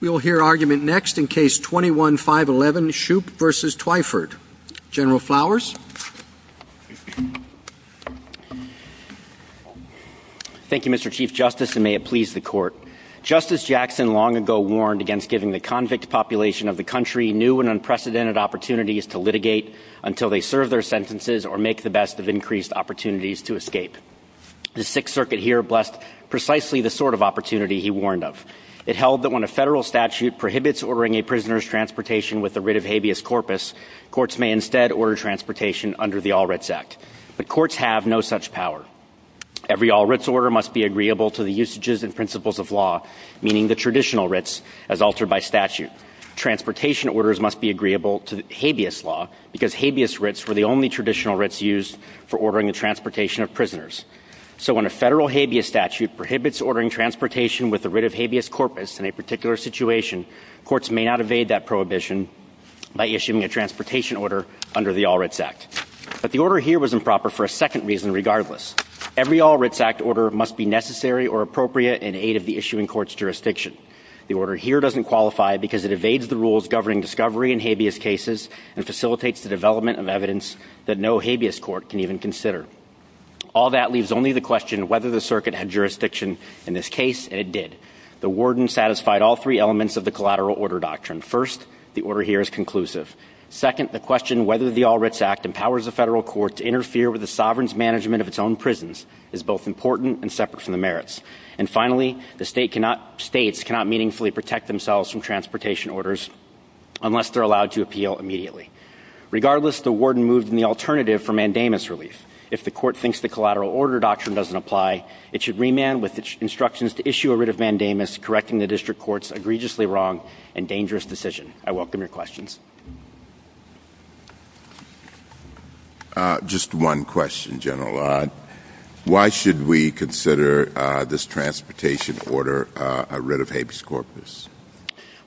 We will hear argument next in case 21-511, Shoop v. Twyford. General Flowers? Thank you, Mr. Chief Justice, and may it please the Court. Justice Jackson long ago warned against giving the convict population of the country new and unprecedented opportunities to litigate until they serve their sentences or make the best of increased opportunities to escape. The Sixth Circuit here blessed precisely the sort of opportunity he warned of. It held that when a federal statute prohibits ordering a prisoner's transportation with the writ of habeas corpus, courts may instead order transportation under the All-Writs Act. But courts have no such power. Every All-Writs order must be agreeable to the usages and principles of law, meaning the traditional writs, as altered by statute. Transportation orders must be agreeable to habeas law, because habeas writs were the only traditional writs used for ordering the transportation of prisoners. So when a federal habeas statute prohibits ordering transportation with the writ of habeas corpus in a particular situation, courts may not evade that prohibition by issuing a transportation order under the All-Writs Act. But the order here was improper for a second reason regardless. Every All-Writs Act order must be necessary or appropriate in aid of the issuing court's jurisdiction. The order here doesn't qualify because it evades the rules governing discovery in habeas cases and facilitates the development of evidence that no habeas court can even consider. All that leaves only the question whether the circuit had jurisdiction in this case, and it did. The warden satisfied all three elements of the collateral order doctrine. First, the order here is conclusive. Second, the question whether the All-Writs Act empowers a federal court to interfere with the sovereign's management of its own prisons is both important and separate from the merits. And finally, the state cannot, states cannot meaningfully protect themselves from transportation orders unless they're allowed to appeal immediately. Regardless, the warden moved in the alternative for mandamus relief. If the court thinks the collateral order doctrine doesn't apply, it should remand with instructions to issue a writ of mandamus correcting the district court's egregiously wrong and dangerous decision. I welcome your questions. Just one question, General. Why should we consider this transportation order a writ of habeas corpus?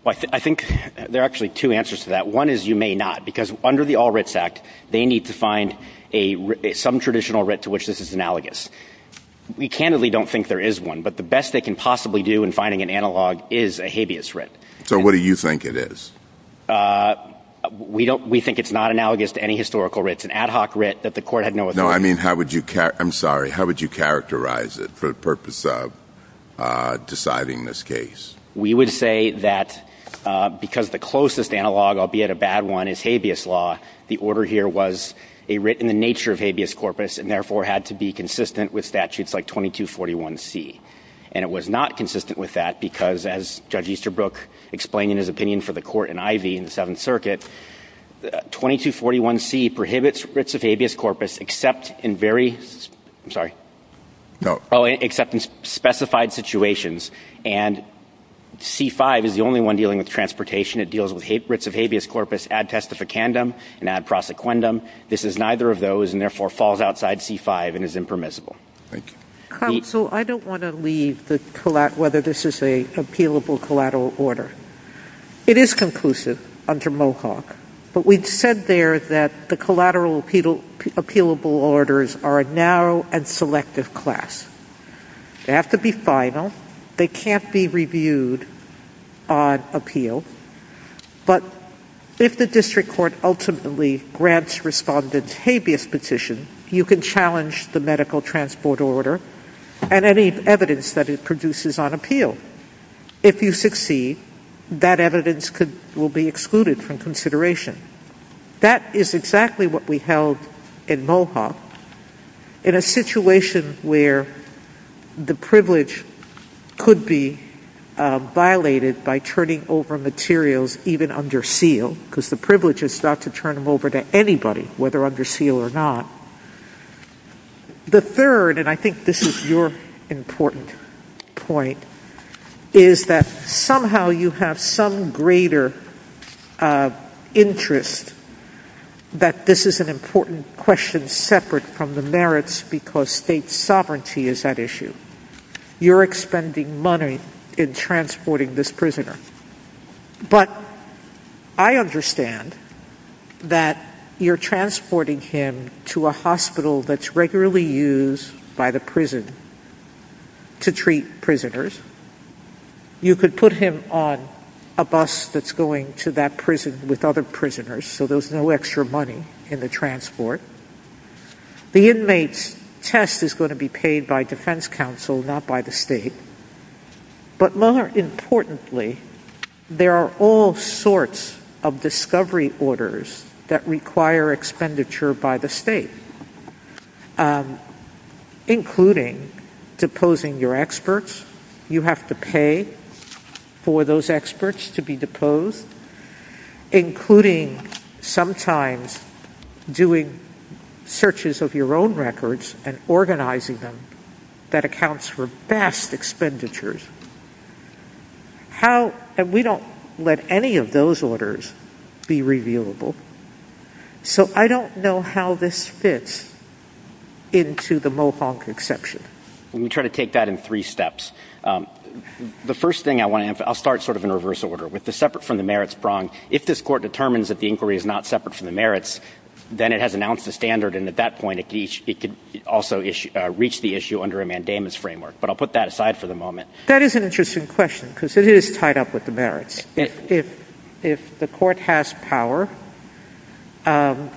I think there are actually two answers to that. One is you may not, because under the statute, there is a writ, some traditional writ to which this is analogous. We candidly don't think there is one, but the best they can possibly do in finding an analog is a habeas writ. So what do you think it is? We don't – we think it's not analogous to any historical writ. It's an ad hoc writ that the court had no authority on. No, I mean, how would you – I'm sorry. How would you characterize it for the purpose of deciding this case? We would say that because the closest analog, albeit a bad one, is habeas law, the order here was a writ in the nature of habeas corpus and therefore had to be consistent with statutes like 2241C. And it was not consistent with that because, as Judge Easterbrook explained in his opinion for the court in Ivey in the Seventh Circuit, 2241C prohibits writs of habeas corpus except in very – I'm sorry. No. Oh, except in specified situations. And C-5 is the only one dealing with transportation. It deals with writs of habeas corpus ad testificandum and ad prosequendum. This is neither of those and therefore falls outside C-5 and is impermissible. Counsel, I don't want to leave the – whether this is an appealable collateral order. It is conclusive under Mohawk, but we said there that the collateral appealable orders are a narrow and selective class. They have to be final. They can't be reviewed on appeal. But if the district court ultimately grants respondent's habeas petition, you can challenge the medical transport order and any evidence that it produces on appeal. If you succeed, that evidence could – will be excluded from consideration. That is exactly what we held in Mohawk in a situation where the privilege could be violated by turning over materials even under seal, because the privilege is not to turn them over to anybody, whether under seal or not. The third, and I think this is your important point, is that somehow you have some greater interest that this is an important question separate from the merits because state sovereignty is that issue. You're expending money in transporting this prisoner. But I understand that you're transporting him to a hospital that's regularly used by the prison to treat prisoners. You could put him on a bus that's going to that prison with other prisoners so there's no extra money in the transport. The inmate's test is going to be paid by defense counsel, not by the state. But more importantly, there are all sorts of discovery orders that require expenditure by the state, including deposing your experts. You have to pay for those experts to be deposed, including sometimes doing searches of your own records and organizing them. That accounts for vast expenditures. How – and we don't let any of those orders be reviewable. So I don't know how this fits into the Mohawk exception. We try to take that in three steps. The first thing I want to – I'll start sort of in reverse order. With the separate from the merits prong, if this Court determines that the inquiry is not separate from the merits, then it has announced a standard and at that point it could also reach the issue under a mandamus framework. But I'll put that aside for the moment. That is an interesting question because it is tied up with the merits. If the Court has power, the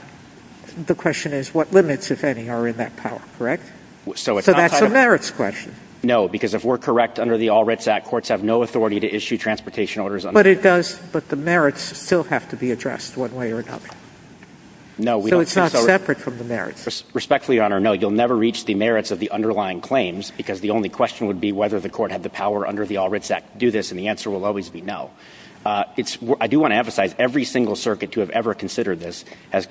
question is what limits, if any, are in that power, correct? So that's a merits question. No, because if we're correct under the All Writs Act, courts have no authority to issue transportation orders under the All Writs Act. But it does – but the merits still have to be addressed one way or another. No, we don't think so. So it's not separate from the merits. Respectfully, Your Honor, no. You'll never reach the merits of the underlying claims because the only question would be whether the Court had the power under the All Writs Act to do this, and the answer will always be no. I do want to emphasize, every single circuit to have ever considered this has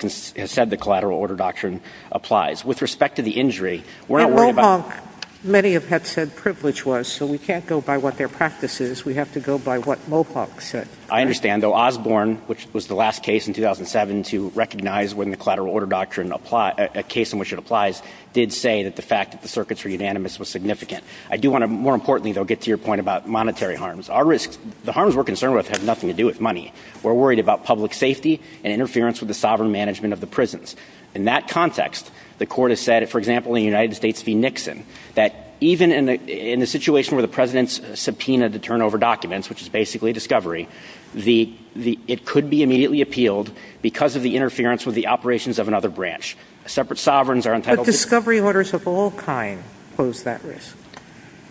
said the collateral order doctrine applies. With respect to the injury, we're not worried about – And Mohonk, many have said privilege was. So we can't go by what their practice is. We have to go by what Mohonk said. I understand. Though Osborne, which was the last case in 2007 to recognize when the collateral order doctrine – a case in which it applies, did say that the fact that the circuits were unanimous was significant. I do want to – more importantly, though, get to your point about monetary harms. Our risks – the harms we're concerned with have nothing to do with money. We're worried about public safety and interference with the sovereign management of the prisons. In that context, the Court has said, for example, in United States v. Nixon, that even in the situation where the President subpoenaed the turnover documents, which is basically discovery, the – it could be immediately appealed because of the interference with the operations of another branch. Separate sovereigns are entitled to – But discovery orders of all kind pose that risk.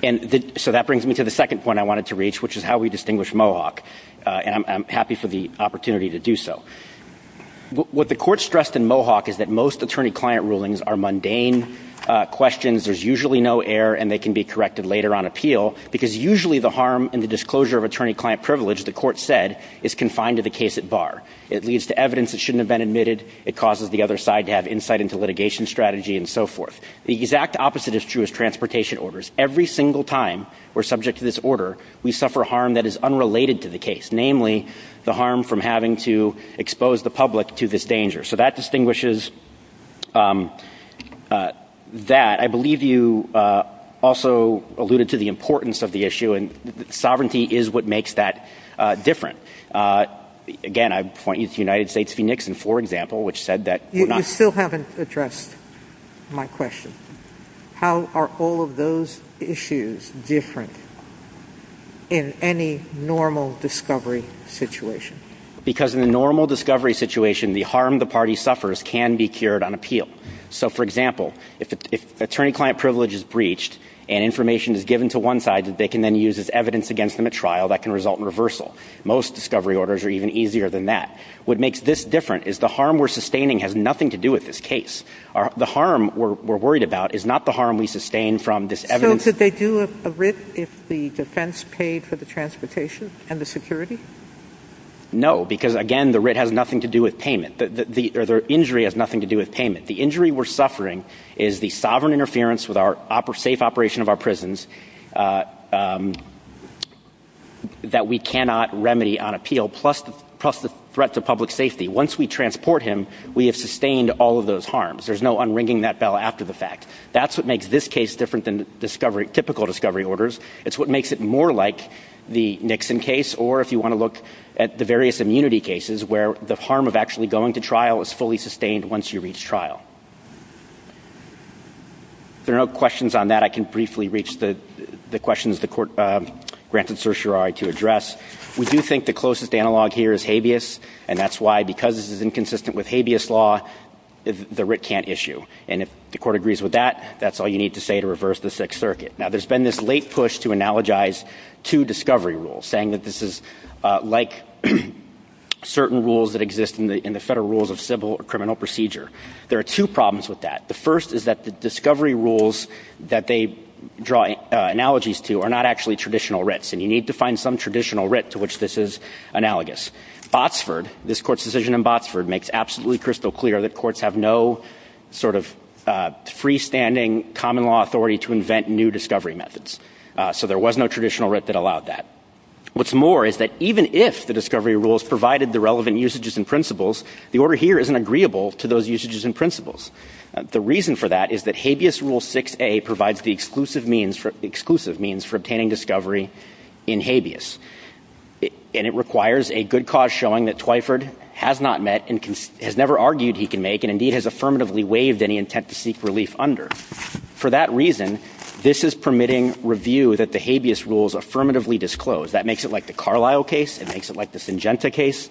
And so that brings me to the second point I wanted to reach, which is how we distinguish Mohonk, and I'm happy for the opportunity to do so. What the Court stressed in Mohonk is that most attorney-client rulings are mundane questions. There's usually no error, and they can be corrected later on appeal, because usually the harm in the disclosure of attorney-client privilege, the Court said, is confined to the case at bar. It leads to evidence that shouldn't have been admitted. It causes the other side to have insight into litigation strategy and so forth. The exact opposite is true of transportation orders. Every single time we're subject to this order, we suffer harm that is unrelated to the case, namely the harm from having to expose the public to this danger. So that distinguishes that. I believe you also alluded to the importance of the issue, and sovereignty is what makes that different. Again, I point you to United States v. Nixon, for example, which said that – You still haven't addressed my question. How are all of those issues different in any normal discovery situation? Because in a normal discovery situation, the harm the party suffers can be cured on appeal. So, for example, if attorney-client privilege is breached and information is given to one side, they can then use as evidence against them at trial that can result in reversal. Most discovery orders are even easier than that. What makes this different is the harm we're sustained from this evidence. So could they do a writ if the defense paid for the transportation and the security? No, because, again, the writ has nothing to do with payment. The injury has nothing to do with payment. The injury we're suffering is the sovereign interference with our safe operation of our prisons that we cannot remedy on appeal, plus the threat to public safety. Once we transport him, we have sustained all of those harms. There's no unringing that bell after the fact. That's what makes this case different than discovery – typical discovery orders. It's what makes it more like the Nixon case or, if you want to look at the various immunity cases, where the harm of actually going to trial is fully sustained once you reach trial. If there are no questions on that, I can briefly reach the questions the court granted certiorari to address. We do think the closest analog here is habeas, and that's why, because this is inconsistent with habeas law, the writ can't issue. And if the court agrees with that, that's all you need to say to reverse the Sixth Circuit. Now, there's been this late push to analogize two discovery rules, saying that this is like certain rules that exist in the Federal Rules of Civil or Criminal Procedure. There are two problems with that. The first is that the discovery rules that they draw analogies to are not actually traditional writs, and you need to find some traditional writ to which this is analogous. Botsford, this court's decision in Botsford, makes absolutely crystal clear that courts have no sort of freestanding common law authority to invent new discovery methods. So there was no traditional writ that allowed that. What's more is that even if the discovery rules provided the relevant usages and principles, the order here isn't agreeable to those usages and principles. The reason for that is that habeas rule 6a provides the exclusive means for obtaining discovery in habeas. And it requires a good cause showing that Twyford has not met and has never argued he can make and indeed has affirmatively waived any intent to seek relief under. For that reason, this is permitting review that the habeas rules affirmatively disclose. That makes it like the Carlisle case. It makes it like the Syngenta case.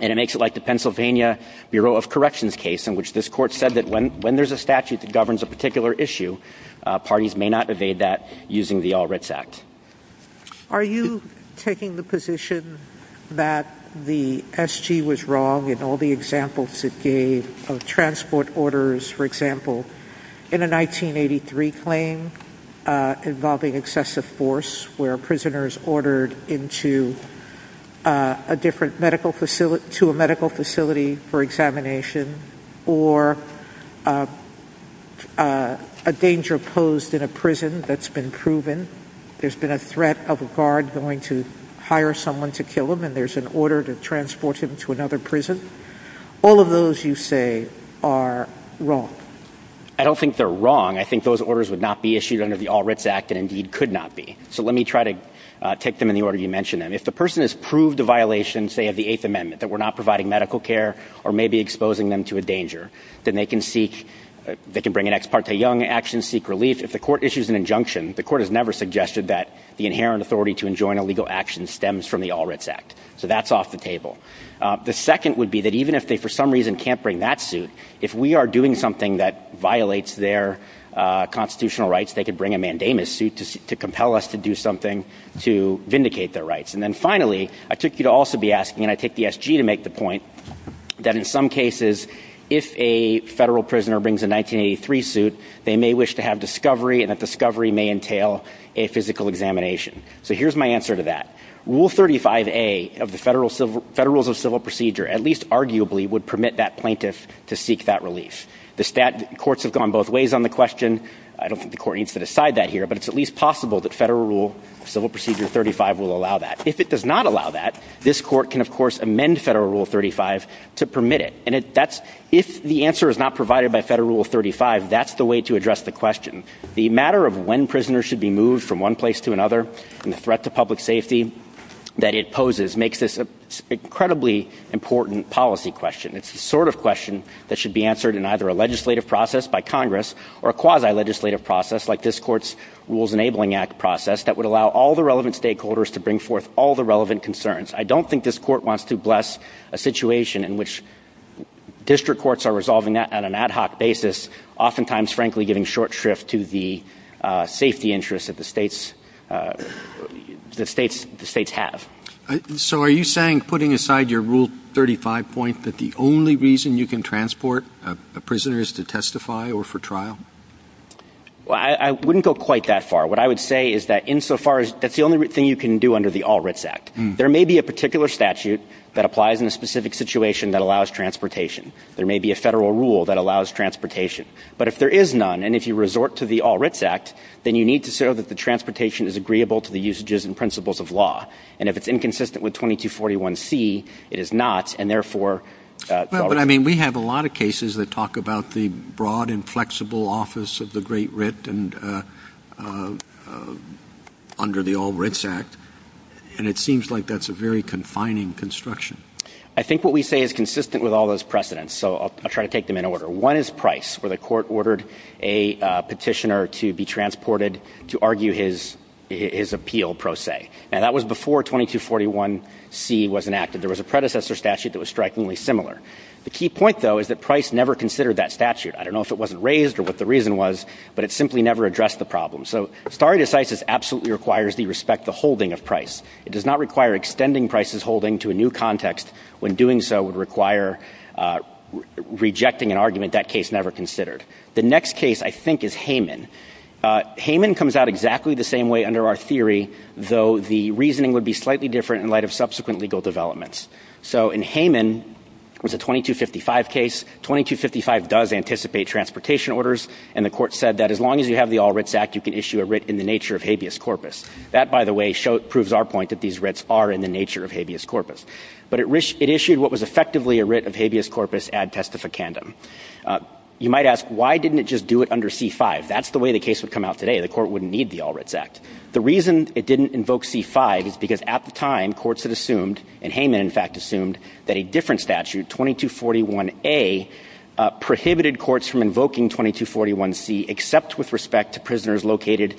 And it makes it like the Pennsylvania Bureau of Corrections case in which this court said that when there's a statute that governs a particular issue, parties may not evade that using the All Writs Act. Are you taking the position that the SG was wrong in all the examples it gave of transport orders, for example, in a 1983 claim involving excessive force where prisoners ordered into a different medical facility to a medical facility for examination or a danger posed in a prison that's been proven, there's been a threat of a guard going to hire someone to kill him, and there's an order to transport him to another prison? All of those, you say, are wrong? I don't think they're wrong. I think those orders would not be issued under the All Writs Act and indeed could not be. So let me try to take them in the order you mentioned them. If the person has proved a violation, say, of the Eighth Amendment, that we're not providing medical care or maybe exposing them to a danger, then they can seek, they can bring an ex parte young action, seek relief. If the court issues an injunction, the court has never suggested that the inherent authority to enjoin a legal action stems from the All Writs Act. So that's off the table. The second would be that even if they for some reason can't bring that suit, if we are doing something that violates their constitutional rights, they could bring a mandamus suit to compel us to do something to vindicate their rights. And then finally, I took you to also be asking, and I take the SG to make the point, that in some cases, if a federal prisoner brings a 1983 suit, they may wish to have discovery and that discovery may entail a physical examination. So here's my answer to that. Rule 35A of the Federal Rules of Civil Procedure, at least arguably, would permit that plaintiff to seek that relief. The stat courts have gone both ways on the question. I don't think the court needs to decide that here, but it's at least possible that Federal Rule of Civil Procedure 35 will allow that. If it does not allow that, this court can, of course, amend Federal Rule 35 to permit it. And that's, if the answer is not provided by Federal Rule 35, that's the way to address the question. The matter of when prisoners should be moved from one place to another and the threat to public safety that it poses makes this an incredibly important policy question. It's the sort of question that should be answered in either a legislative process by Congress or a quasi-legislative process like this court's Rules Enabling Act process that would allow all the relevant stakeholders to bring forth all the relevant concerns. I don't think this court wants to bless a situation in which oftentimes, frankly, giving short shrift to the safety interests that the states have. So are you saying, putting aside your Rule 35 point, that the only reason you can transport a prisoner is to testify or for trial? Well, I wouldn't go quite that far. What I would say is that insofar as that's the only thing you can do under the All Writs Act. There may be a particular statute that applies in a situation that allows transportation. There may be a Federal Rule that allows transportation. But if there is none, and if you resort to the All Writs Act, then you need to show that the transportation is agreeable to the usages and principles of law. And if it's inconsistent with 2241C, it is not, and therefore... But I mean, we have a lot of cases that talk about the broad and flexible office of the Great Writ and under the All Writs Act, and it seems like that's a very confining construction. I think what we say is consistent with all those precedents, so I'll try to take them in order. One is Price, where the Court ordered a petitioner to be transported to argue his appeal, pro se. Now, that was before 2241C was enacted. There was a predecessor statute that was strikingly similar. The key point, though, is that Price never considered that statute. I don't know if it wasn't raised or what the reason was, but it simply never addressed the problem. So stare decisis absolutely requires the respect, the holding of Price. It does not require extending Price's holding to a new context when doing so would require rejecting an argument that case never considered. The next case, I think, is Hayman. Hayman comes out exactly the same way under our theory, though the reasoning would be slightly different in light of subsequent legal developments. So in Hayman, it was a 2255 case. 2255 does anticipate transportation orders, and the Court said that as long as you have the All Writs Act, you can issue a writ in the nature of habeas corpus. That, by the way, proves our point that these writs are in the nature of habeas corpus. But it issued what was effectively a writ of habeas corpus ad testificandum. You might ask, why didn't it just do it under C-5? That's the way the case would come out today. The Court wouldn't need the All Writs Act. The reason it didn't invoke C-5 is because at the time, courts had assumed, and Hayman, in fact, assumed that a different statute, 2241A, prohibited courts from invoking 2241C except with respect to prisoners located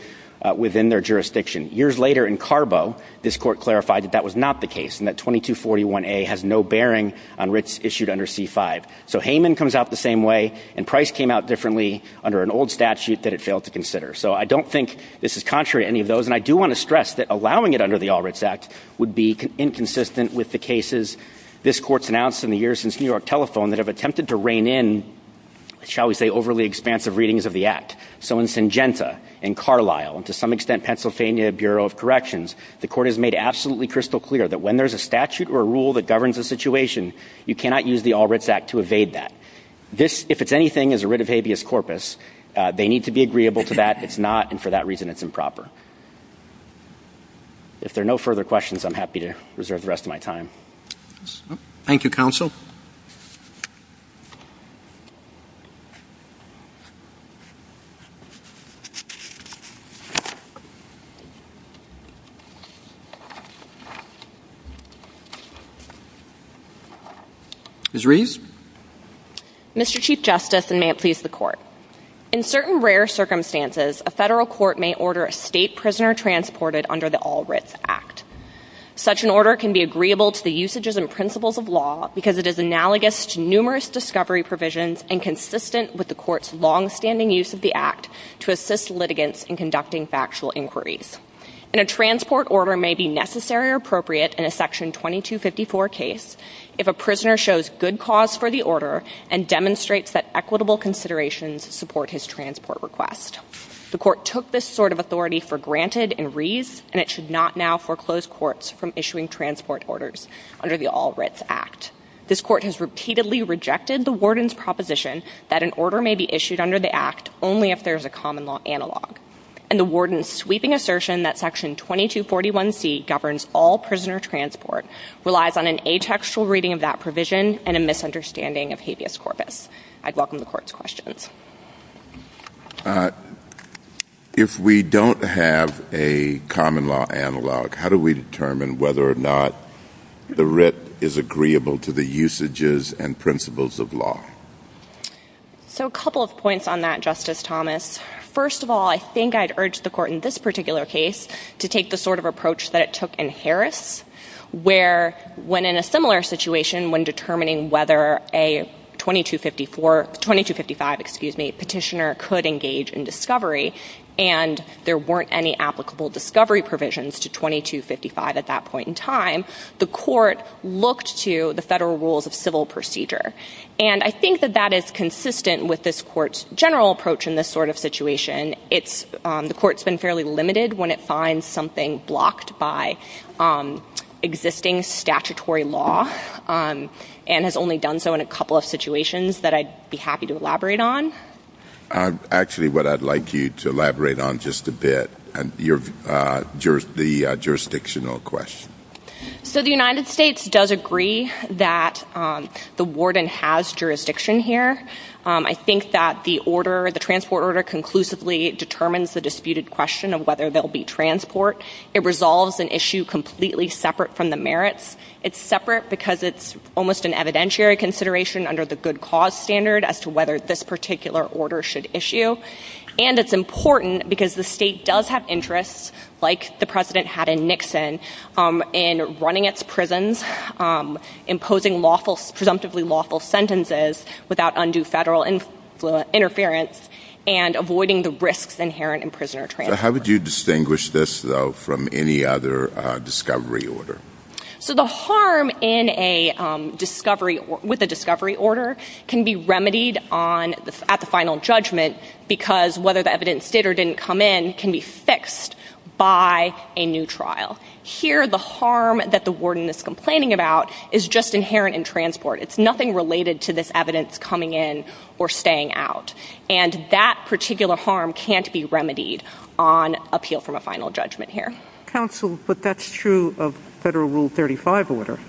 within their jurisdiction. Years later, in Carbo, this Court clarified that that was not the case, and that 2241A has no bearing on writs issued under C-5. So Hayman comes out the same way, and Price came out differently under an old statute that it failed to consider. So I don't think this is contrary to any of those, and I do want to stress that allowing it under the All Writs Act would be inconsistent with the cases this Court's announced in the years since New York Telephone that have attempted to rein in, shall we say, overly expansive readings of the Act. So in Syngenta, in Carlisle, and to some extent, Pennsylvania Bureau of Corrections, the Court has made absolutely crystal clear that when there's a statute or a rule that governs a situation, you cannot use the All Writs Act to evade that. This, if it's anything, is a writ of habeas corpus. They need to be agreeable to that. It's not, and for that reason, it's improper. If there are no further questions, I'm happy to reserve the rest of my time. Thank you, Counsel. Ms. Reeves? Mr. Chief Justice, and may it please the Court. In certain rare circumstances, a federal court may order a state prisoner transported under the All Writs Act. Such an order can be agreeable to the usages and principles of law because it is analogous to numerous discovery provisions and consistent with the Court's longstanding use of the Act to assist litigants in conducting factual inquiries. And a transport order may be necessary or appropriate in a Section 2254 case if a prisoner shows good cause for the order and demonstrates that equitable considerations support his transport request. The Court took this sort of authority for granted in Reeves, and it should not now foreclose courts from issuing transport orders under the All Writs Act. This Court has repeatedly rejected the Warden's proposition that an order may be issued under the Act only if there is a common law analog. And the Warden's sweeping assertion that Section 2241c governs all prisoner transport relies on an atextual reading of that provision and a misunderstanding of habeas corpus. I welcome the Court's questions. If we don't have a common law analog, how do we determine whether or not the writ is agreeable to the usages and principles of law? So a couple of points on that, Justice Thomas. First of all, I think I'd urge the Court in this particular case to take the sort of approach that it took in Harris, where when in a similar petitioner could engage in discovery and there weren't any applicable discovery provisions to 2255 at that point in time, the Court looked to the federal rules of civil procedure. And I think that that is consistent with this Court's general approach in this sort of situation. The Court's been fairly limited when it finds something blocked by existing statutory law and has only done so in a couple of situations that I'd be happy to elaborate on. Actually, what I'd like you to elaborate on just a bit, the jurisdictional question. So the United States does agree that the warden has jurisdiction here. I think that the order, the transport order conclusively determines the disputed question of whether there'll be transport. It resolves an issue completely separate from the merits. It's separate because it's almost an evidentiary consideration under the good cause standard as to whether this particular order should issue. And it's important because the state does have interests, like the President had in Nixon, in running its prisons, imposing presumptively lawful sentences without undue federal interference, and avoiding the risks inherent in prisoner transport. How would you distinguish this, though, from any other discovery order? So the harm with a discovery order can be remedied at the final judgment because whether the evidence did or didn't come in can be fixed by a new trial. Here, the harm that the warden is complaining about is just inherent in transport. It's nothing related to this evidence coming in or staying out. And that particular harm can't be remedied on appeal from a final judgment here. Counsel, but that's true of Federal Rule 35 order.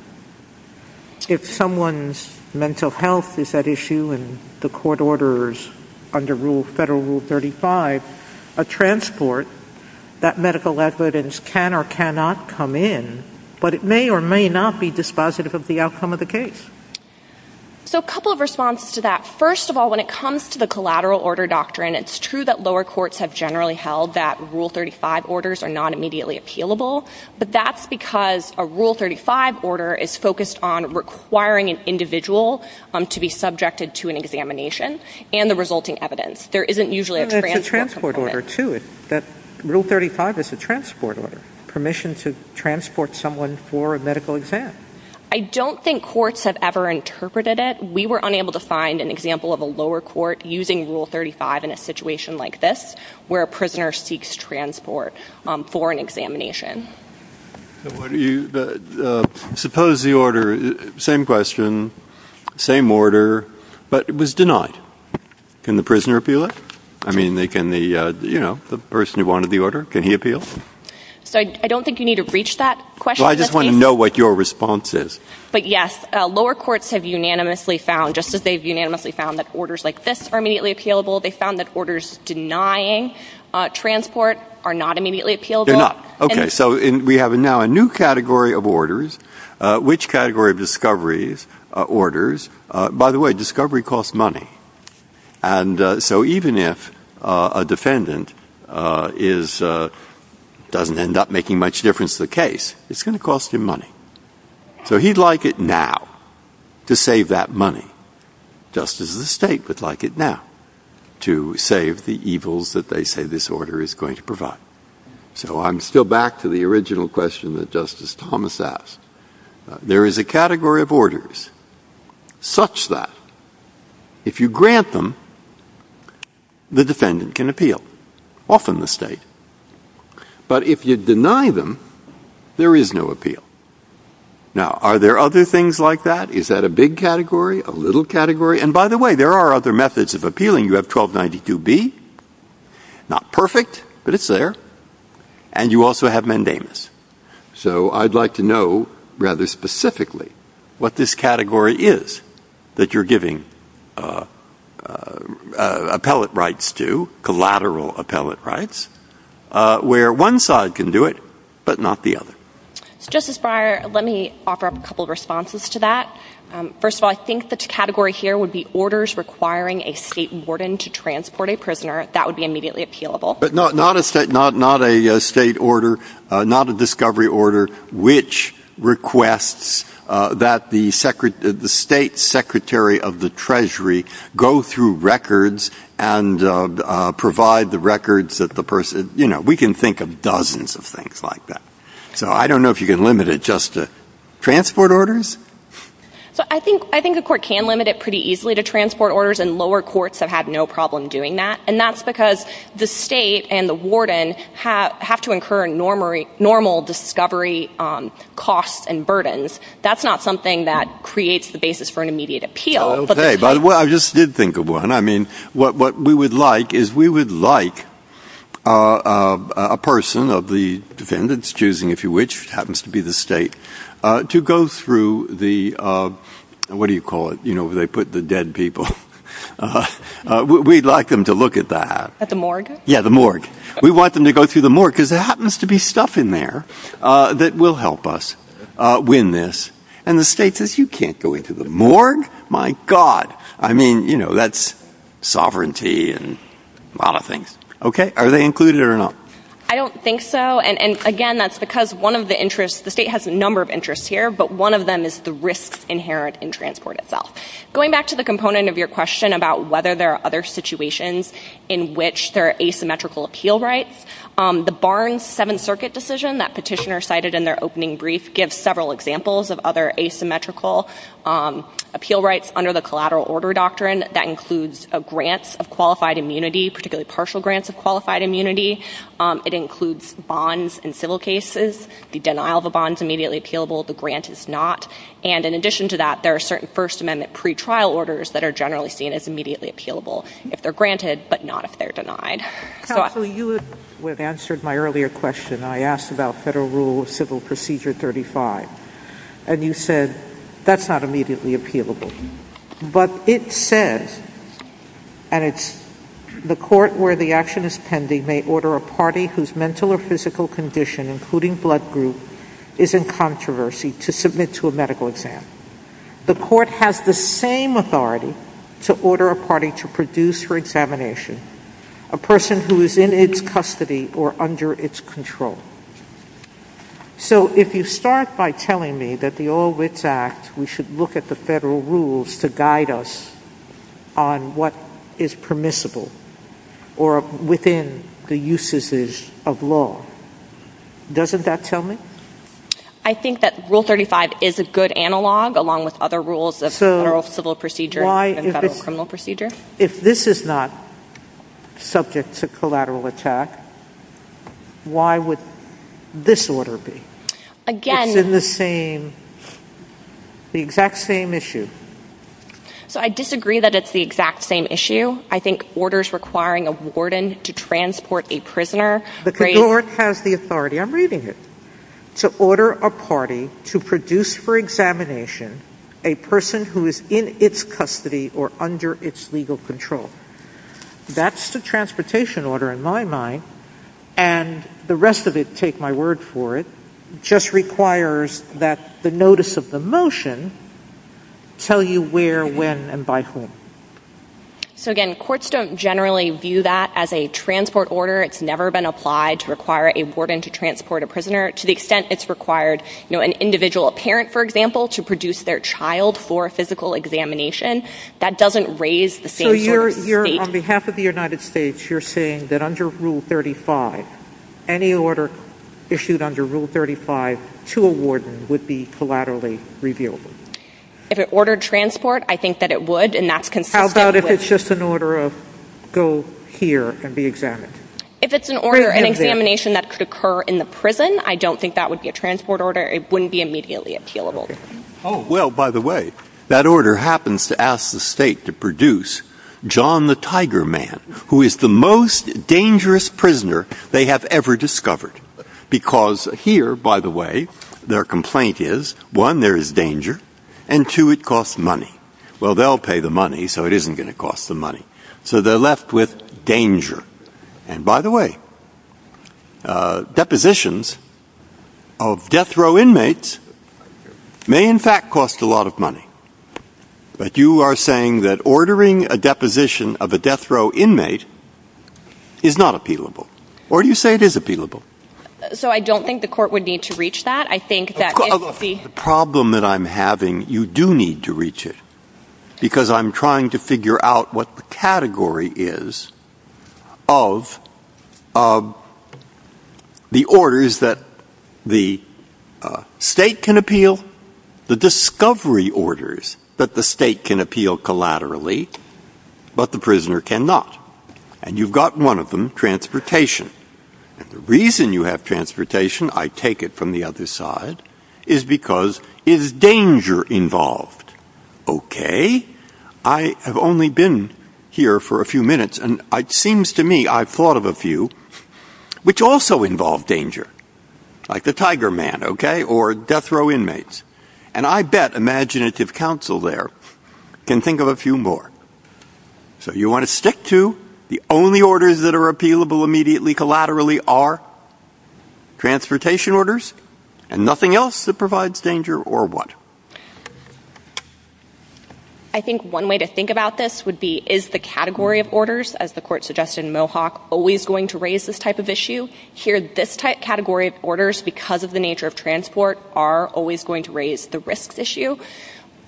If someone's mental health is at issue and the court orders under Federal Rule 35, a transport, that medical evidence can or cannot come in, but it may or may not be dispositive of the outcome of the case. So a couple of responses to that. First of all, when it comes to the collateral order doctrine, it's true that lower courts have generally held that Rule 35 orders are not immediately appealable, but that's because a Rule 35 order is focused on requiring an individual to be subjected to an examination and the resulting evidence. There isn't usually a transport order. And that's a transport order, too. Rule 35 is a transport order, permission to transport someone for a medical exam. I don't think courts have ever interpreted it. We were unable to find an example of a situation like this where a prisoner seeks transport for an examination. Suppose the order, same question, same order, but it was denied. Can the prisoner appeal it? I mean, can the person who wanted the order, can he appeal? So I don't think you need to reach that question. I just want to know what your response is. But yes, lower courts have unanimously found, just as they've unanimously found that orders like this are immediately appealable, they found that orders denying transport are not immediately appealable. They're not. Okay. So we have now a new category of orders. Which category of discoveries, orders, by the way, discovery costs money. And so even if a defendant is, doesn't end up making much difference to the case, it's going to cost him money. So he'd like it now to save that money, just as the state would like it now to save the evils that they say this order is going to provide. So I'm still back to the original question that Justice Thomas asked. There is a category of orders such that if you grant them, the defendant can appeal, often the state. But if you deny them, there is no appeal. Now, are there other things like that? Is that a big category, a little category? And by the way, there are other methods of appealing. You have 1292B, not perfect, but it's there. And you also have mandamus. So I'd like to know rather specifically what this category is that you're giving appellate rights to, collateral appellate rights, where one side can do it, but not the other. So Justice Breyer, let me offer up a couple of responses to that. First of all, I think the category here would be orders requiring a state warden to transport a prisoner. That would be immediately appealable. But not a state order, not a discovery order, which requests that the secretary, the state secretary of the treasury go through records and provide the records that the person, you know, we can think of dozens of things like that. So I don't know if you can limit it just to transport orders. So I think a court can limit it pretty easily to transport orders, and lower courts have had no problem doing that. And that's because the state and the warden have to incur normal discovery costs and burdens. That's not something that creates the basis for an immediate appeal. Okay. By the way, I just did think of one. I mean, what we would like is we would like a person of the defendant's choosing, if you wish, happens to be the state, to go through the, what do you call it, you know, where they put the dead people. We'd like them to look at that. At the morgue? Yeah, the morgue. We want them to go through the morgue because there happens to be stuff in there that will help us win this. And the state says, you can't go into the morgue? My God. I mean, you know, that's sovereignty and a lot of things. Okay. Are they included or not? I don't think so. And again, that's because one of the interests, the state has a number of interests here, but one of them is the risks inherent in transport itself. Going back to the component of your question about whether there are other situations in which there are asymmetrical appeal rights, the Barnes Seventh Circuit decision that petitioner cited in their opening brief gives several examples of other asymmetrical appeal rights under the collateral order doctrine. That includes grants of qualified immunity, particularly partial grants of qualified immunity. It includes bonds in civil cases. The denial of a bond is immediately appealable. The grant is not. And in addition to that, there are certain first amendment pretrial orders that are generally seen as immediately appealable if they're granted, but not if they're denied. Counsel, you had answered my earlier question. I asked about federal rule of civil procedure 35, and you said that's not immediately appealable, but it says, and it's the court where the action is pending may order a party whose mental or physical condition, including blood group, is in controversy to submit to a medical exam. The court has the same authority to order a party to produce her examination, a person who is in its custody or under its control. So if you start by telling me that the All Wits Act, we should look at the federal rules to guide us on what is permissible or within the usages of law, doesn't that tell me? I think that rule 35 is a good analog, along with other rules of civil procedure and federal criminal procedure. If this is not subject to collateral attack, why would this order be? Again, the same, the exact same issue. So I disagree that it's the exact same issue. I think orders requiring a warden to transport a prisoner. The court has the authority, I'm reading it, to order a party to produce for examination a person who is in its custody or under its legal control. That's the transportation order in my mind, and the rest of it, take my word for it, just requires that the notice of the motion tell you where, when, and by whom. So again, courts don't generally view that as a transport order. It's never been applied to require a warden to transport a prisoner, to the extent it's required an individual, a parent, for example, to produce their child for a physical examination. That doesn't raise the same sort of state. So you're, on behalf of the United States, you're saying that under Rule 35, any order issued under Rule 35 to a warden would be collaterally reviewable? If it ordered transport, I think that it would, and that's consistent. If it's just an order of go here and be examined? If it's an order, an examination that could occur in the prison, I don't think that would be a transport order. It wouldn't be immediately appealable. Oh, well, by the way, that order happens to ask the state to produce John the Tiger Man, who is the most dangerous prisoner they have ever discovered. Because here, by the way, their complaint is, one, there is danger, and two, it costs money. Well, they'll pay the money, so it isn't going to cost them money. So they're left with danger. And by the way, depositions of death row inmates may, in fact, cost a lot of money. But you are saying that ordering a deposition of a death row inmate is not appealable? Or do you say it is appealable? So I don't think the court would need to reach that. I think that if the problem that I'm having, you do need to reach it. Because I'm trying to figure out what the category is of the orders that the state can appeal, the discovery orders that the state can appeal collaterally, but the prisoner cannot. And you've got one of them, transportation. And the reason you have transportation, I take it from the other side, is because, is danger involved? Okay. I have only been here for a few minutes, and it seems to me I've thought of a few which also involve danger, like the Tiger Man, okay, or death row inmates. And I bet imaginative counsel there can think of a few more. So you want to stick to the only orders that are appealable immediately, collaterally, are transportation orders, and nothing else that provides danger, or what? I think one way to think about this would be, is the category of orders, as the court suggested in Mohawk, always going to raise this type of issue? Here, this type category of orders, because of the nature of transport, are always going to raise the risks issue.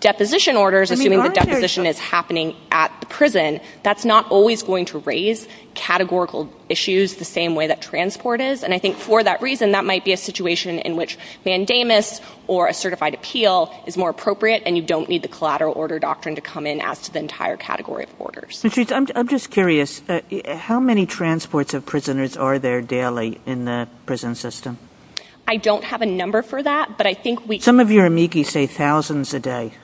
Deposition orders, assuming the deposition is happening at the prison, that's not always going to raise categorical issues the same way that transport is. And I think for that reason, that might be a situation in which mandamus, or a certified appeal, is more appropriate, and you don't need the collateral order doctrine to come in as to the entire category of orders. Ms. Rietz, I'm just curious, how many transports of prisoners are there daily in the prison system? I don't have a number for that, but I think we Some of your amigis say thousands a day.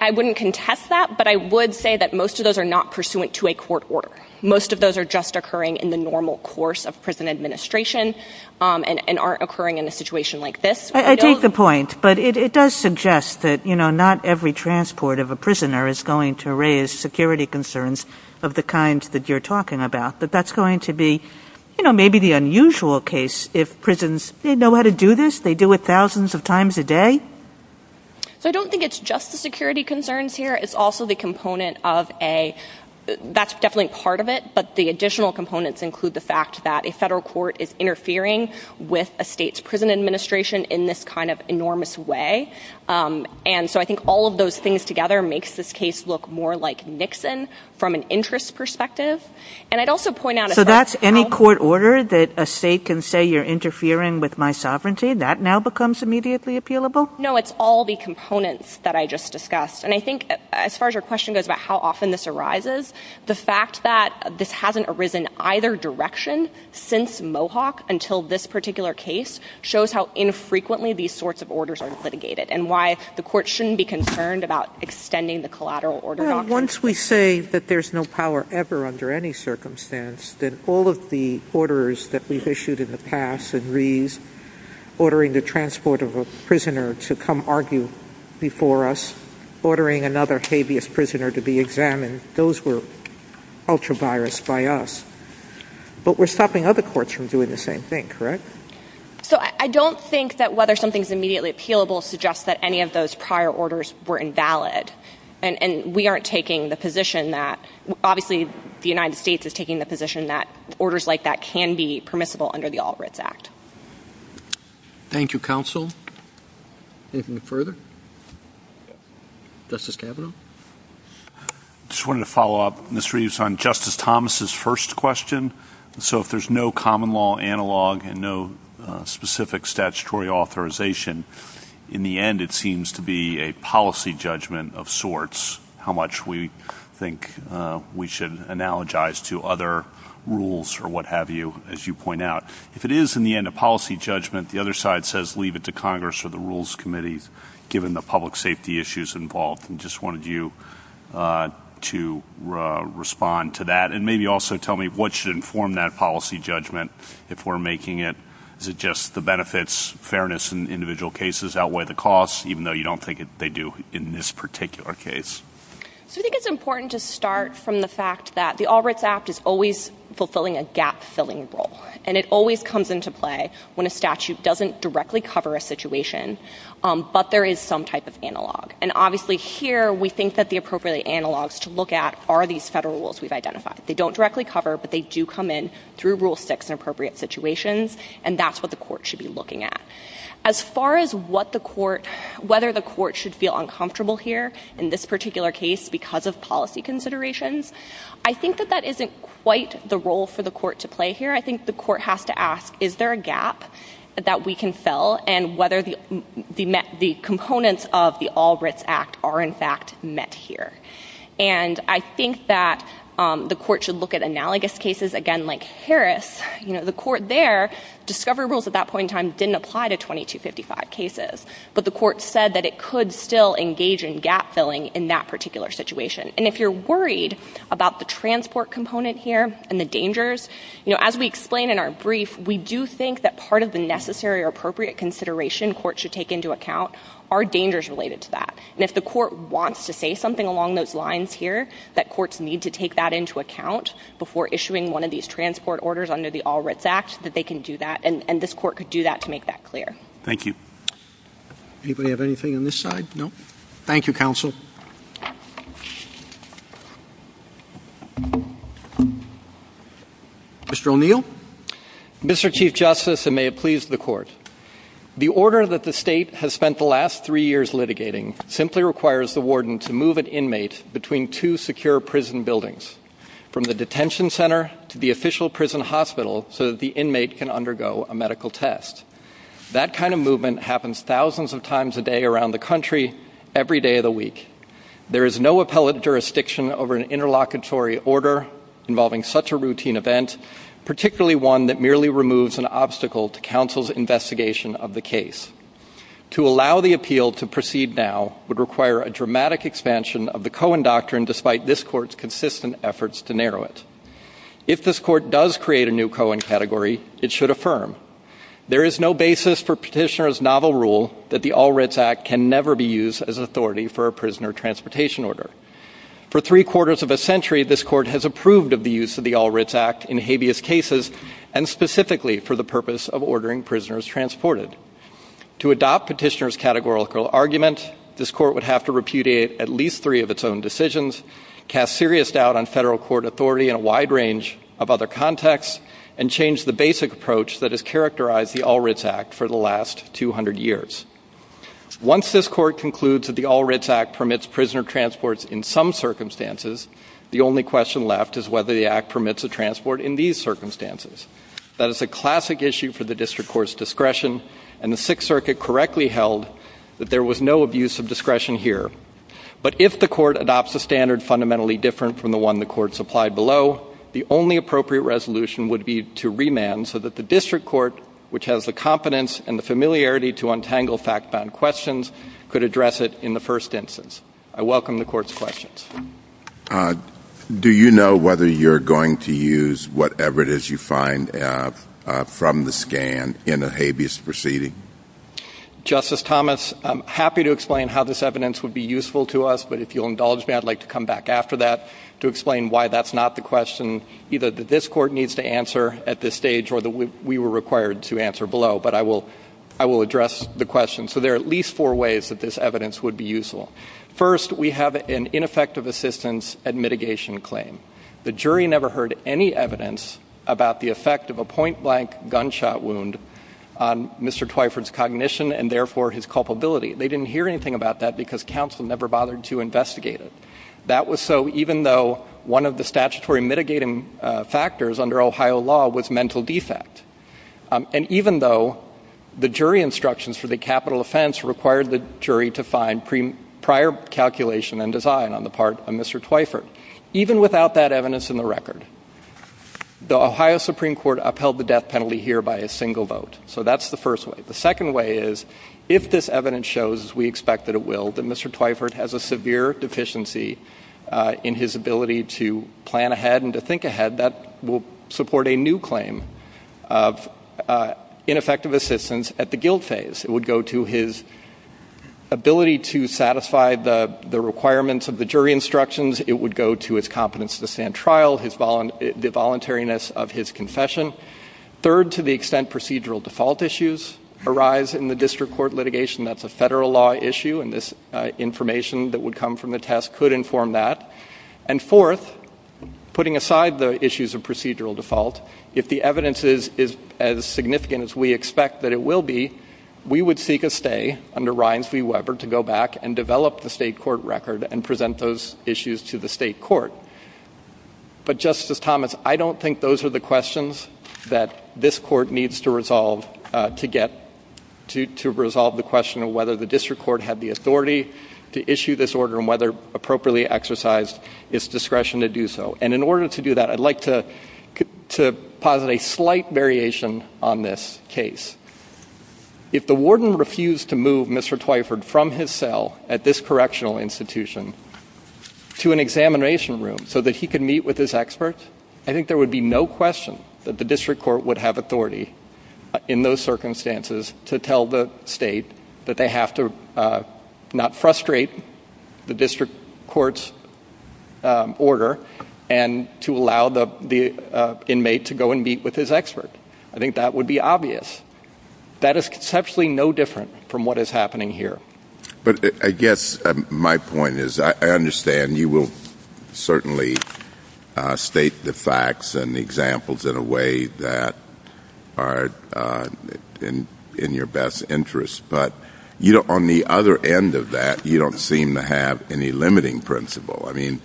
I wouldn't contest that, but I would say that most of those are not pursuant to a court order. Most of those are just occurring in the normal course of prison administration, and aren't occurring in a situation like this. I take the point, but it does suggest that, you know, not every transport of a prisoner is going to raise security concerns of the kind that you're talking about. That that's going to be, you know, maybe the unusual case if prisons, they know how to do this, do it thousands of times a day. So I don't think it's just the security concerns here. It's also the component of a, that's definitely part of it, but the additional components include the fact that a federal court is interfering with a state's prison administration in this kind of enormous way. And so I think all of those things together makes this case look more like Nixon from an interest perspective. And I'd also point out So that's any court order that a state can say you're interfering with my sovereignty? That now becomes immediately appealable? No, it's all the components that I just discussed. And I think as far as your question goes about how often this arises, the fact that this hasn't arisen either direction since Mohawk until this particular case shows how infrequently these sorts of orders are litigated and why the court shouldn't be concerned about extending the collateral order. Once we say that there's no power ever under any circumstance, then all of the orders that we've issued in the past, and Reeves ordering the transport of a prisoner to come argue before us, ordering another habeas prisoner to be examined, those were ultra virus by us. But we're stopping other courts from doing the same thing, correct? So I don't think that whether something's immediately appealable suggests that any of those prior orders were invalid. And we aren't taking the position that, obviously, the United States is taking the position that orders like that can be permissible under the Albritts Act. Thank you, counsel. Anything further? Justice Kavanaugh? Just wanted to follow up, Ms. Reeves, on Justice Thomas's first question. So if there's no common law analog and no specific statutory authorization, in the end, it seems to be a policy judgment of sorts, how much we think we should analogize to other rules or what have you, as you point out. If it is, in the end, a policy judgment, the other side says leave it to Congress or the Rules Committee, given the public safety issues involved. And just wanted you to respond to that. And maybe also tell me what should inform that policy judgment if we're making it. Is it just the benefits, fairness in individual cases outweigh the costs, even though you don't think they do in this particular case? So I think it's important to start from the fact that the Albritts Act is always fulfilling a gap-filling role. And it always comes into play when a statute doesn't directly cover a situation, but there is some type of analog. And obviously, here, we think that the appropriate analogs to look at are these federal rules we've identified. They don't directly cover, but they do come in through Rule 6 in appropriate situations. And that's what the court should be looking at. As far as whether the court should feel uncomfortable here in this particular case because of policy considerations, I think that that isn't quite the role for the court to play here. I think the court has to ask, is there a gap that we can fill? And whether the components of the Albritts Act are, in fact, met here. And I think that the court should look at analogous cases, again, like Harris. The court there, discovery rules at that point in time didn't apply to 2255 cases, but the court said that it could still engage in gap-filling in that particular situation. And if you're worried about the transport component here and the dangers, as we explain in our brief, we do think that part of the necessary or appropriate consideration courts should take into account are dangers related to that. And if the court wants to say something along those lines here, that courts need to take that into account before issuing one of these transport orders under the Albritts Act, that they can do that. And this court could do that to make that clear. Thank you. Anybody have anything on this side? No. Thank you, counsel. Mr. O'Neill. Mr. Chief Justice, and may it please the court. The order that the state has spent the last three years litigating simply requires the warden to move an inmate between two secure prison buildings, from the detention center to the official prison hospital, so that the inmate can undergo a medical test. That kind of movement happens thousands of times a day around the country, every day of the week. There is no appellate jurisdiction over an interlocutory order involving such a routine event, particularly one that merely removes an obstacle to counsel's investigation of the case. To allow the appeal to proceed now would require a dramatic expansion of the Cohen doctrine, despite this court's consistent efforts to narrow it. If this court does create a new Cohen category, it should affirm. There is no basis for Petitioner's novel rule that the Albritts Act can never be used as authority for a prisoner transportation order. For three quarters of a century, this court has approved of the use of the Albritts Act in habeas cases, and specifically for the purpose of ordering prisoners transported. To adopt Petitioner's categorical argument, this court would have to repudiate at least three of its own decisions, cast serious doubt on federal court authority in a wide range of other contexts, and change the basic approach that has characterized the Albritts Act for the last 200 years. Once this court concludes that the Albritts Act permits prisoner transports in some circumstances, the only question left is whether the Act permits a transport in these circumstances. That is a classic issue for the district court's discretion, and the Sixth Circuit correctly held that there was no abuse of discretion here. But if the court adopts a standard fundamentally different from the one the court supplied below, the only appropriate resolution would be to remand so that the district court, which has the competence and the familiarity to untangle fact-bound questions, could address it in the first instance. I welcome the court's questions. Do you know whether you're going to use whatever it is you find from the scan in a habeas proceeding? Justice Thomas, I'm happy to explain how this evidence would be useful to us, but if you'll indulge me, I'd like to come back after that to explain why that's not the question either that this court needs to answer at this stage or that we were required to answer below. But I will address the question. So there are at least four ways that this evidence would be useful. First, we have an ineffective assistance and mitigation claim. The jury never heard any evidence about the effect of a point-blank gunshot wound on Mr. Twyford's cognition and therefore his culpability. They didn't hear anything about that because counsel never bothered to investigate it. That was so even though one of the statutory mitigating factors under Ohio law was mental defect. And even though the jury instructions for the capital offense required the jury to find prior calculation and design on the part of Mr. Twyford. Even without that evidence in the record, the Ohio Supreme Court upheld the death penalty here by a single vote. So that's the first way. The second way is if this evidence shows, as we expect that it will, that Mr. Twyford has a severe deficiency in his ability to plan ahead and to think ahead, that will support a new claim of ineffective assistance at the guilt phase. It would go to his trial, the voluntariness of his confession. Third, to the extent procedural default issues arise in the district court litigation, that's a federal law issue and this information that would come from the test could inform that. And fourth, putting aside the issues of procedural default, if the evidence is as significant as we expect that it will be, we would seek a stay under Ryans v. Weber to go back and develop the state court record and present those issues to the state court. But Justice Thomas, I don't think those are the questions that this court needs to resolve to get to resolve the question of whether the district court had the authority to issue this order and whether appropriately exercised its discretion to do so. And in order to do that, I'd like to posit a slight variation on this case. If the warden refused to move Mr. Twyford from his cell at this correctional institution to an examination room so that he could meet with his expert, I think there would be no question that the district court would have authority in those circumstances to tell the state that they have to not frustrate the district court's order and to allow the inmate to go and meet with his expert. I think that would be obvious. That is conceptually no different from what is happening here. But I guess my point is, I understand you will certainly state the facts and the examples in a way that are in your best interest. But on the other end of that, you don't seem to have any limiting principle. I mean,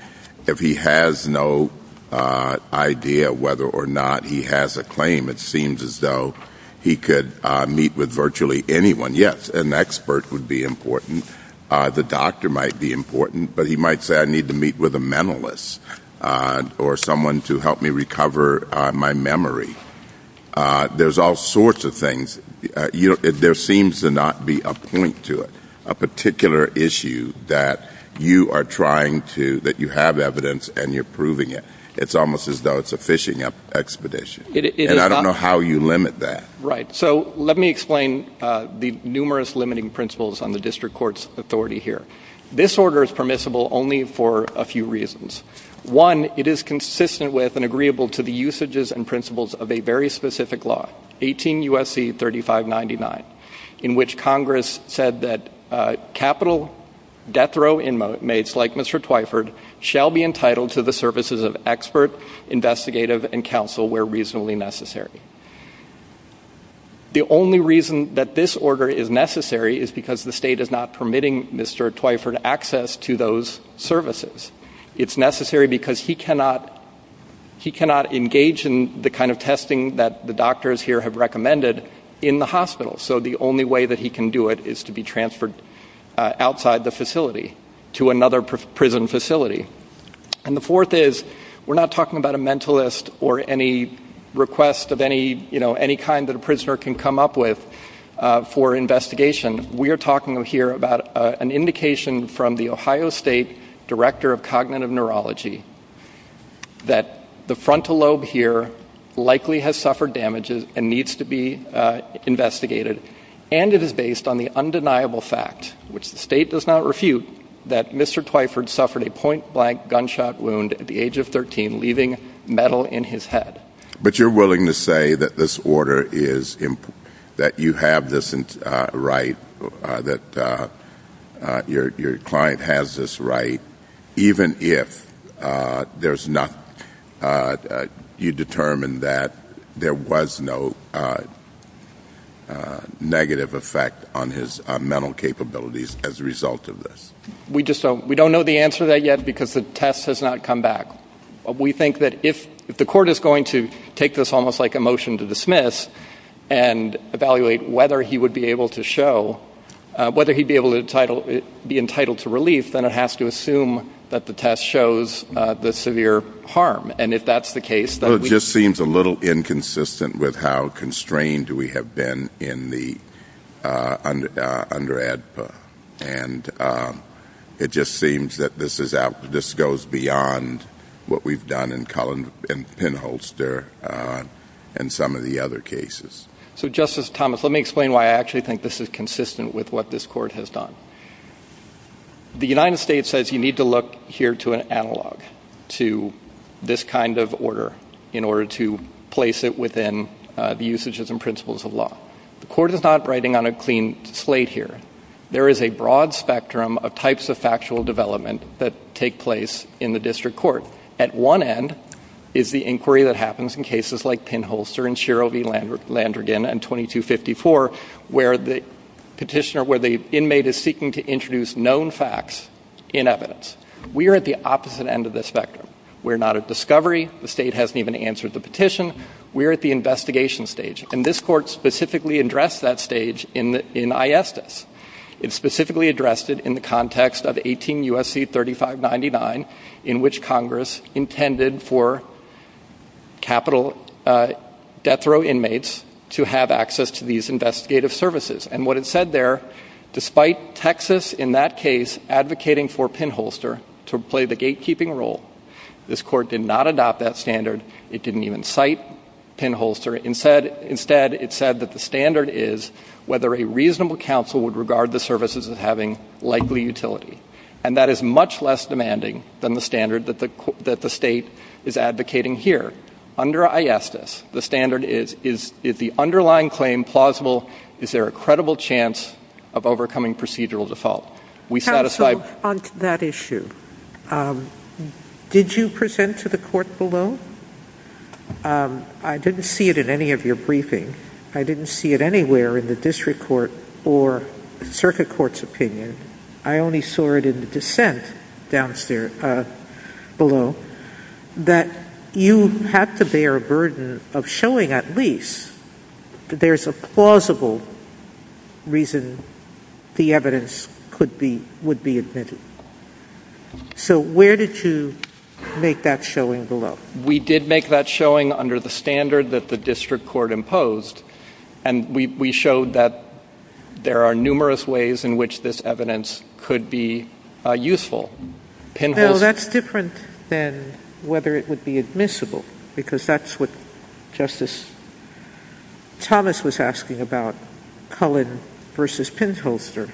if he has no idea whether or not he has a claim, it seems as though he could meet with virtually anyone. Yes, an expert would be important. The doctor might be important. But he might say, I need to meet with a mentalist or someone to help me recover my memory. There's all sorts of things. There seems to not be a point to it, a particular issue that you are trying to, that you have evidence and you're proving it. It's almost as though it's a fishing expedition. And I don't know how you limit that. Right. So let me explain the numerous limiting principles on the district court's authority here. This order is permissible only for a few reasons. One, it is consistent with and agreeable to the usages and principles of a very specific law, 18 U.S.C. 3599, in which Congress said that capital death row inmates like Mr. Twyford shall be entitled to the services of expert, investigative, and counsel where reasonably necessary. The only reason that this order is necessary is because the state is not permitting Mr. Twyford access to those services. It's necessary because he cannot engage in the kind of testing that the doctors here have recommended in the hospital. So the only way that he can do it is be transferred outside the facility to another prison facility. And the fourth is, we're not talking about a mentalist or any request of any kind that a prisoner can come up with for investigation. We are talking here about an indication from the Ohio State Director of Cognitive Neurology that the frontal lobe here likely has suffered damage and needs to be investigated. And it is based on the undeniable fact, which the state does not refute, that Mr. Twyford suffered a point blank gunshot wound at the age of 13, leaving metal in his head. But you're willing to say that this order is, that you have this right, that your client has this even if there's not, you determined that there was no negative effect on his mental capabilities as a result of this? We just don't, we don't know the answer to that yet because the test has not come back. We think that if the court is going to take this almost like a motion to dismiss and evaluate whether he would be able to show, whether he'd be able to be entitled to relief, then it has to that the test shows the severe harm. And if that's the case that we... It just seems a little inconsistent with how constrained we have been in the, under ADPA. And it just seems that this is out, this goes beyond what we've done in Cullen and Penholster and some of the other cases. So Justice Thomas, let me explain why I actually think this is consistent with what this court has done. The United States says you need to look here to an analog to this kind of order in order to place it within the usages and principles of law. The court is not writing on a clean slate here. There is a broad spectrum of types of factual development that take place in the district court. At one end is the inquiry that happens in cases like Penholster and Shiro v. Landrigan and 2254 where the petitioner, the inmate is seeking to introduce known facts in evidence. We are at the opposite end of the spectrum. We're not at discovery. The state hasn't even answered the petition. We're at the investigation stage. And this court specifically addressed that stage in ISDIS. It specifically addressed it in the context of 18 U.S.C. 3599 in which Congress intended for capital death row inmates to have access to these investigative services. And what it said there, despite Texas in that case advocating for Penholster to play the gatekeeping role, this court did not adopt that standard. It didn't even cite Penholster. Instead, it said that the standard is whether a reasonable counsel would regard the services as having likely utility. And that is much less demanding than the standard that the state is advocating here. Under ISDIS, the standard is, is the underlying claim plausible? Is there a credible chance of overcoming procedural default? We satisfied So on to that issue, did you present to the court below? I didn't see it in any of your briefing. I didn't see it anywhere in the district court or circuit court's opinion. I only saw it in the dissent downstairs below that you have to bear a burden of showing at least there's a plausible reason the evidence could be, would be admitted. So where did you make that showing below? We did make that showing under the standard that the district court imposed. And we showed that there are numerous ways in which this evidence could be useful. Penholster No, that's different than whether it would be admissible, because that's what Justice Thomas was asking about Cullen versus Penholster.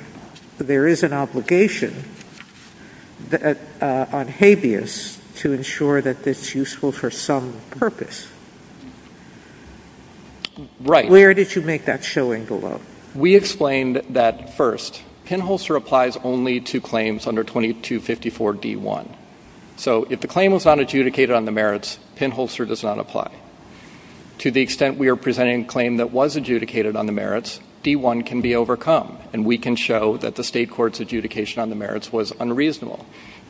There is an obligation on habeas to ensure that it's useful for some purpose. Right. Where did you make that showing below? We explained that first Penholster applies only claims under 2254 D1. So if the claim was not adjudicated on the merits, Penholster does not apply. To the extent we are presenting a claim that was adjudicated on the merits, D1 can be overcome and we can show that the state court's adjudication on the merits was unreasonable.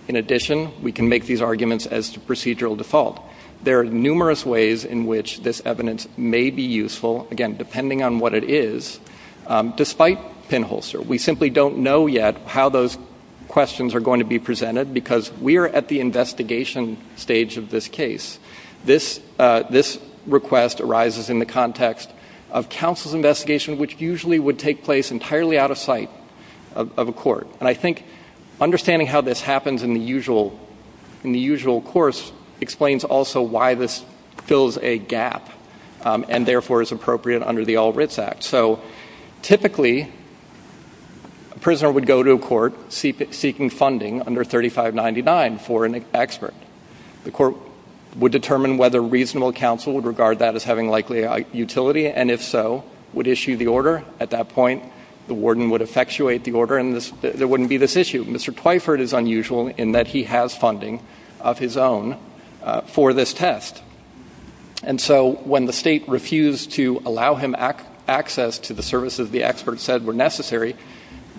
In addition, we can make these arguments as to procedural default. There are numerous ways in which this evidence may be useful, again, depending on what it is. Despite Penholster, we simply don't know yet how those questions are going to be presented because we're at the investigation stage of this case. This request arises in the context of counsel's investigation, which usually would take place entirely out of sight of a court. And I think understanding how this happens in the usual course explains also why this fills a gap and therefore is appropriate under the All Writs Act. So typically, a prisoner would go to a court seeking funding under 3599 for an expert. The court would determine whether reasonable counsel would regard that as having likely utility and if so, would issue the order. At that point, the warden would effectuate the order and there wouldn't be this issue. Mr. Twyford is unusual in that he has funding of his own for this test. And so when the state refused to allow him access to the services the expert said were necessary,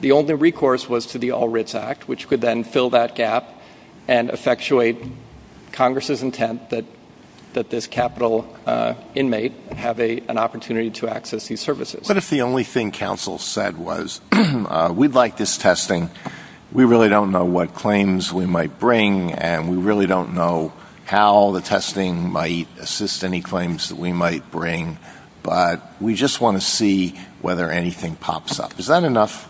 the only recourse was to the All Writs Act, which could then fill that gap and effectuate Congress's intent that this capital inmate have an opportunity to access these services. But if the only thing counsel said was, we'd like this testing, we really don't know what might assist any claims that we might bring, but we just want to see whether anything pops up. Is that enough?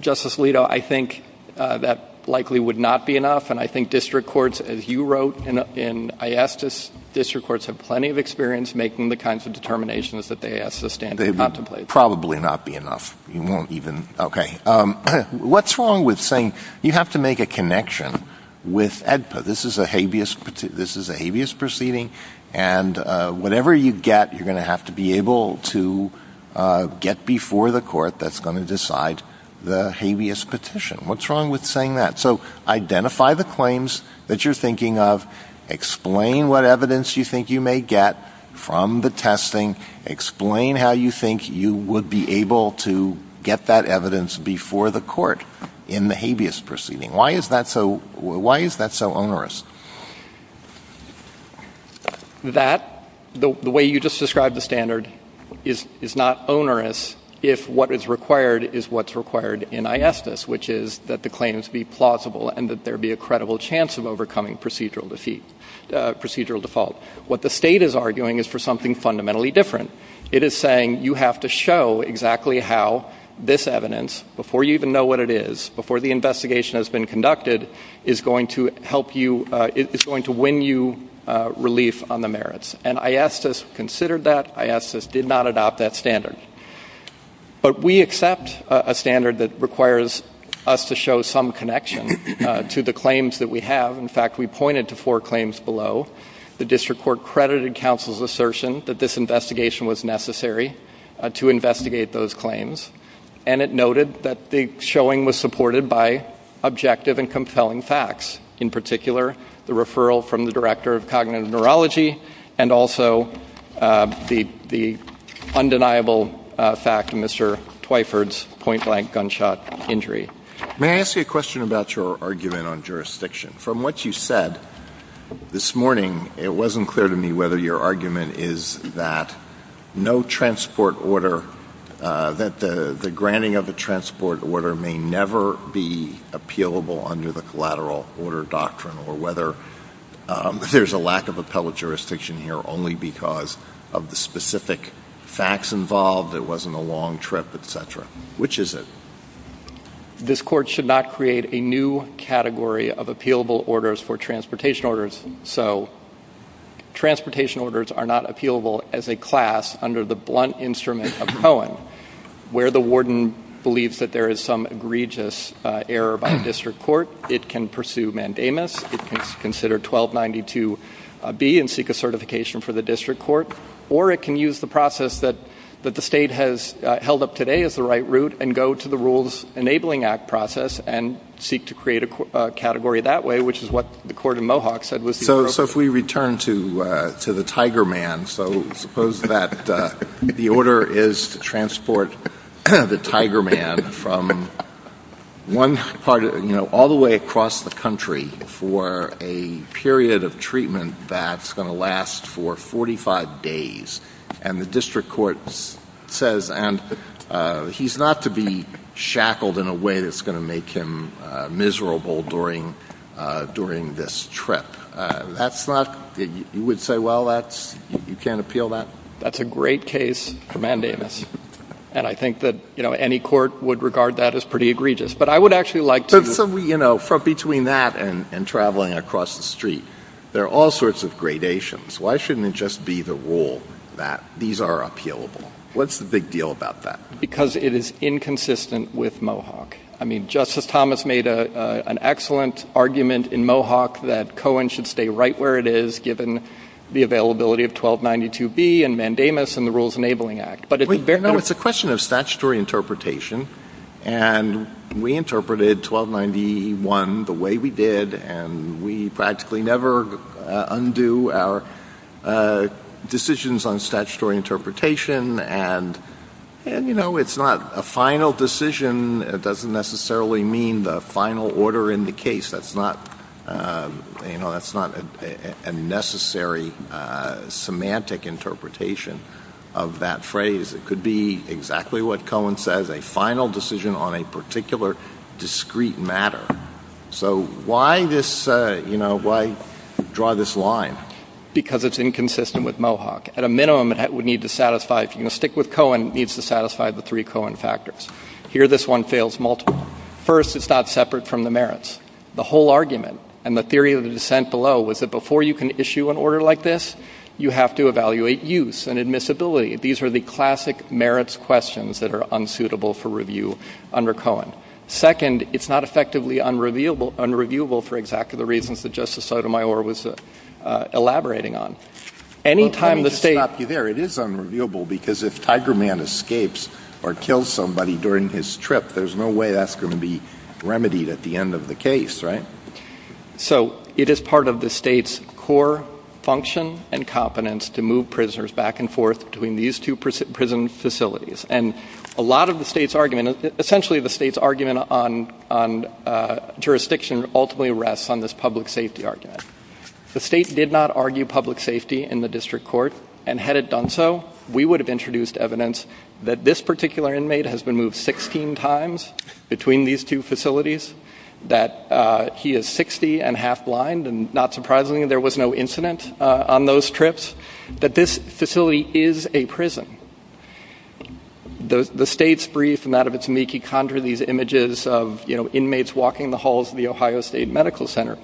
Justice Alito, I think that likely would not be enough. And I think district courts, as you wrote in IASTIS, district courts have plenty of experience making the kinds of determinations that they ask to stand and contemplate. They would probably not be enough. You won't even – okay. What's wrong with saying you have to make a connection with HEDPA? This is a habeas proceeding. And whatever you get, you're going to have to be able to get before the court that's going to decide the habeas petition. What's wrong with saying that? So identify the claims that you're thinking of. Explain what evidence you think you may get from the testing. Explain how you think you would be able to get that evidence before the court in the habeas proceeding. Why is that so onerous? That, the way you just described the standard, is not onerous if what is required is what's required in IASTIS, which is that the claims be plausible and that there be a credible chance of overcoming procedural default. What the state is arguing is for something fundamentally different. It is saying you have to show exactly how this evidence, before you even know what it is, before the investigation has been conducted, is going to help you – is going to win you relief on the merits. And IASTIS considered that. IASTIS did not adopt that standard. But we accept a standard that requires us to show some connection to the claims that we have. In fact, we pointed to four claims below. The district court credited counsel's assertion that this investigation was necessary to investigate those claims. And it noted that the showing was supported by objective and compelling facts. In particular, the referral from the Director of Cognitive Neurology and also the undeniable fact of Mr. Twyford's point-blank gunshot injury. May I ask you a question about your argument on jurisdiction? From what you said this morning, it wasn't clear to me whether your argument is that no transport order – that the granting of a transport order may never be appealable under the collateral order doctrine or whether there's a lack of appellate jurisdiction here only because of the specific facts involved, it wasn't a long trip, et cetera. Which is it? This court should not create a new category of appealable orders for transportation orders, so transportation orders are not appealable as a class under the blunt instrument of Cohen. Where the warden believes that there is some egregious error by the district court, it can pursue mandamus. It can consider 1292B and seek a certification for the district court. Or it can use the process that the state has held up today as the right route and go to the Enabling Act process and seek to create a category that way, which is what the court in Mohawk said. So if we return to the tiger man, so suppose that the order is to transport the tiger man from one part – all the way across the country for a period of treatment that's going to last for 45 days. And the district court says, and he's not to be shackled in a way that's going to make him miserable during this trip. That's not – you would say, well, that's – you can't appeal that? That's a great case for mandamus. And I think that, you know, any court would regard that as pretty egregious. But I would actually like to – So, you know, from between that and traveling across the street, there are all sorts of gradations. Why shouldn't it just be the rule that these are appealable? What's the big deal about that? Because it is inconsistent with Mohawk. I mean, Justice Thomas made an excellent argument in Mohawk that Cohen should stay right where it is given the availability of 1292B and mandamus and the Rules Enabling Act. But at the very – No, it's a question of statutory interpretation. And we interpreted 1291 the way we did, and we practically never undo our decisions on statutory interpretation. And, you know, it's not a final decision. It doesn't necessarily mean the final order in the case. That's not a necessary semantic interpretation of that phrase. It could be exactly what Cohen says, a final decision on a particular discrete matter. So why this – you know, why draw this line? Because it's inconsistent with Mohawk. At a minimum, it would need to satisfy – if you're going to stick with Cohen, it needs to satisfy the three Cohen factors. Here, this one fails multiple. First, it's not separate from the merits. The whole argument and the theory of the dissent below was that before you can issue an order like this, you have to evaluate use and admissibility. These are the classic merits questions that are unsuitable for review under Cohen. Second, it's not effectively unreviewable for exactly the reasons that Justice Sotomayor was elaborating on. Any time the State – Well, let me just stop you there. It is unreviewable because if Tiger Man escapes or kills somebody during his trip, there's no way that's going to be remedied at the end of the case, right? So it is part of the State's core function and competence to move prisoners back and forth between these two prison facilities. And a lot of the State's argument – essentially, the State's argument on jurisdiction ultimately rests on this public safety argument. The State did not argue public safety in the district court, and had it done so, we would have introduced evidence that this particular inmate has been moved 16 times between these two facilities, that he is 60 and half blind, and not surprisingly, there was no incident on those trips, that this facility is a prison. The State's brief and that of its meekie conjure these images of, you know, inmates walking the halls of the Ohio State Medical Center.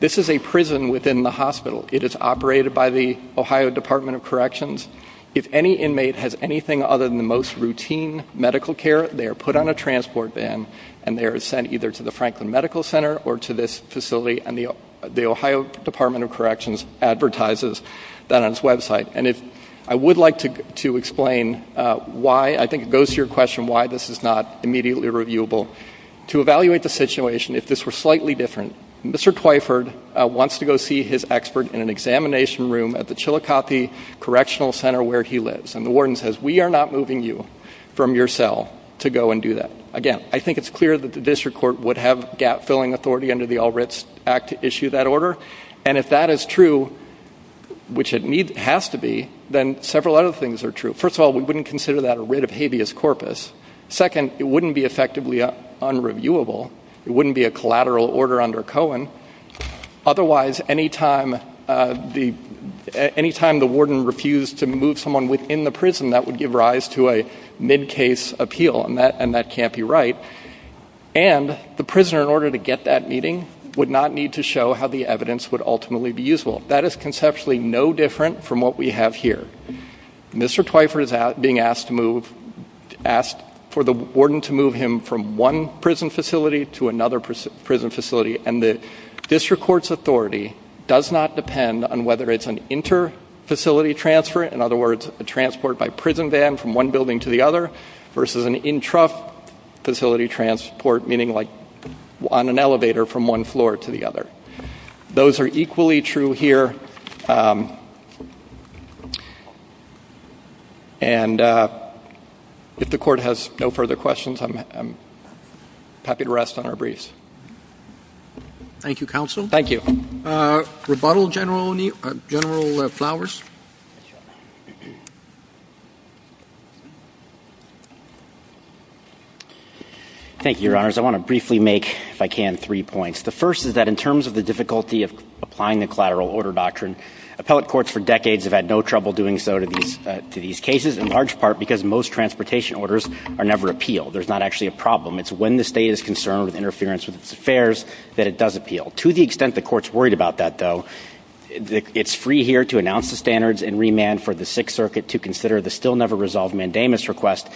This is a prison within the hospital. It is operated by the Ohio Department of Corrections. If any inmate has anything other than the most routine medical care, they are put on a transport van and they are sent either to the Franklin Medical Center or to this facility, and the Ohio Department of Corrections advertises that on its website. And I would like to explain why – I think it goes to your question why this is not immediately reviewable. To evaluate the situation, if this were slightly different, Mr. Twyford wants to go see his expert in an examination room at the Chillicothe Correctional Center where he lives. And the warden says, we are not moving you from your cell to go and do that. Again, I think it's clear that the district court would have gap-filling authority under the All Writs Act to issue that order. And if that is true, which it has to be, then several other things are true. First of all, we wouldn't consider that a writ of habeas corpus. Second, it wouldn't be effectively unreviewable. It wouldn't be a collateral order under Cohen. Otherwise, any time the warden refused to move someone within the prison, that would give rise to a mid-case appeal, and that can't be right. And the prisoner, in order to get that meeting, would not need to show how the evidence would ultimately be usable. That is conceptually no different from what we have here. Mr. Twyford is being asked to move – asked for the warden to move. District court's authority does not depend on whether it's an inter-facility transfer, in other words, a transport by prison van from one building to the other, versus an intrafacility transport, meaning like on an elevator from one floor to the other. Those are equally true here. And if the court has no further questions, I'm happy to rest on our Thank you, Your Honors. I want to briefly make, if I can, three points. The first is that in terms of the difficulty of applying the collateral order doctrine, appellate courts for decades have had no trouble doing so to these cases, in large part because most transportation orders are never appealed. There's not actually a problem. It's when the State is concerned with interference with its affairs that it does appeal. To the extent the court's worried about that, though, it's free here to announce the standards and remand for the Sixth Circuit to consider the still-never-resolved mandamus request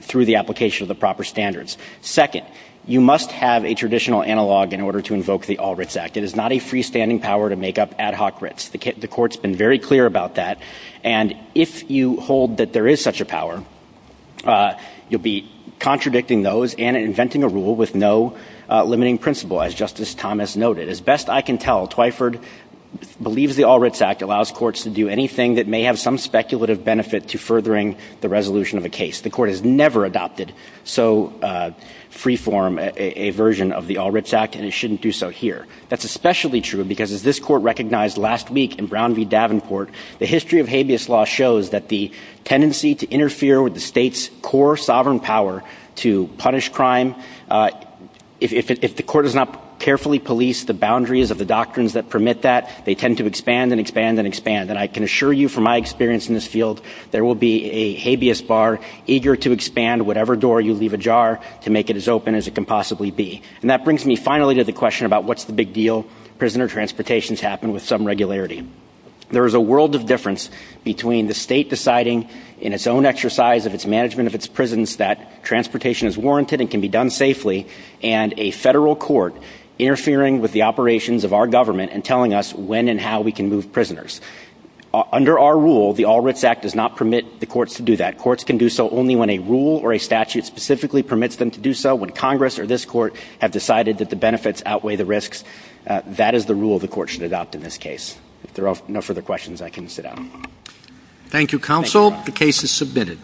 through the application of the proper standards. Second, you must have a traditional analog in order to invoke the All-Writs Act. It is not a freestanding power to make up ad hoc writs. The court's been very clear about that. And if you hold that there is such a power, you'll be contradicting those and inventing a rule with no limiting principle, as Justice Thomas noted. As best I can tell, Twyford believes the All-Writs Act allows courts to do anything that may have some speculative benefit to furthering the resolution of a case. The court has never adopted so freeform a version of the All-Writs Act, and it shouldn't do so here. That's especially true because, as this court recognized last week in Brown v. Davenport, the history of habeas law shows that the tendency to interfere with the court is to expand and expand and expand. And I can assure you from my experience in this field, there will be a habeas bar eager to expand whatever door you leave ajar to make it as open as it can possibly be. And that brings me finally to the question about what's the big deal? Prisoner transportations happen with some regularity. There is a world of difference between the state deciding in its own exercise of its management of its prisons that transportation is warranted and can be done safely, and a Federal court interfering with the operations of our government and telling us when and how we can move prisoners. Under our rule, the All-Writs Act does not permit the courts to do that. Courts can do so only when a rule or a statute specifically permits them to do so. When Congress or this court have decided that the benefits outweigh the risks, that is the rule the court should adopt in this case. If there are no further questions, I can sit down. Thank you, counsel. The case is submitted.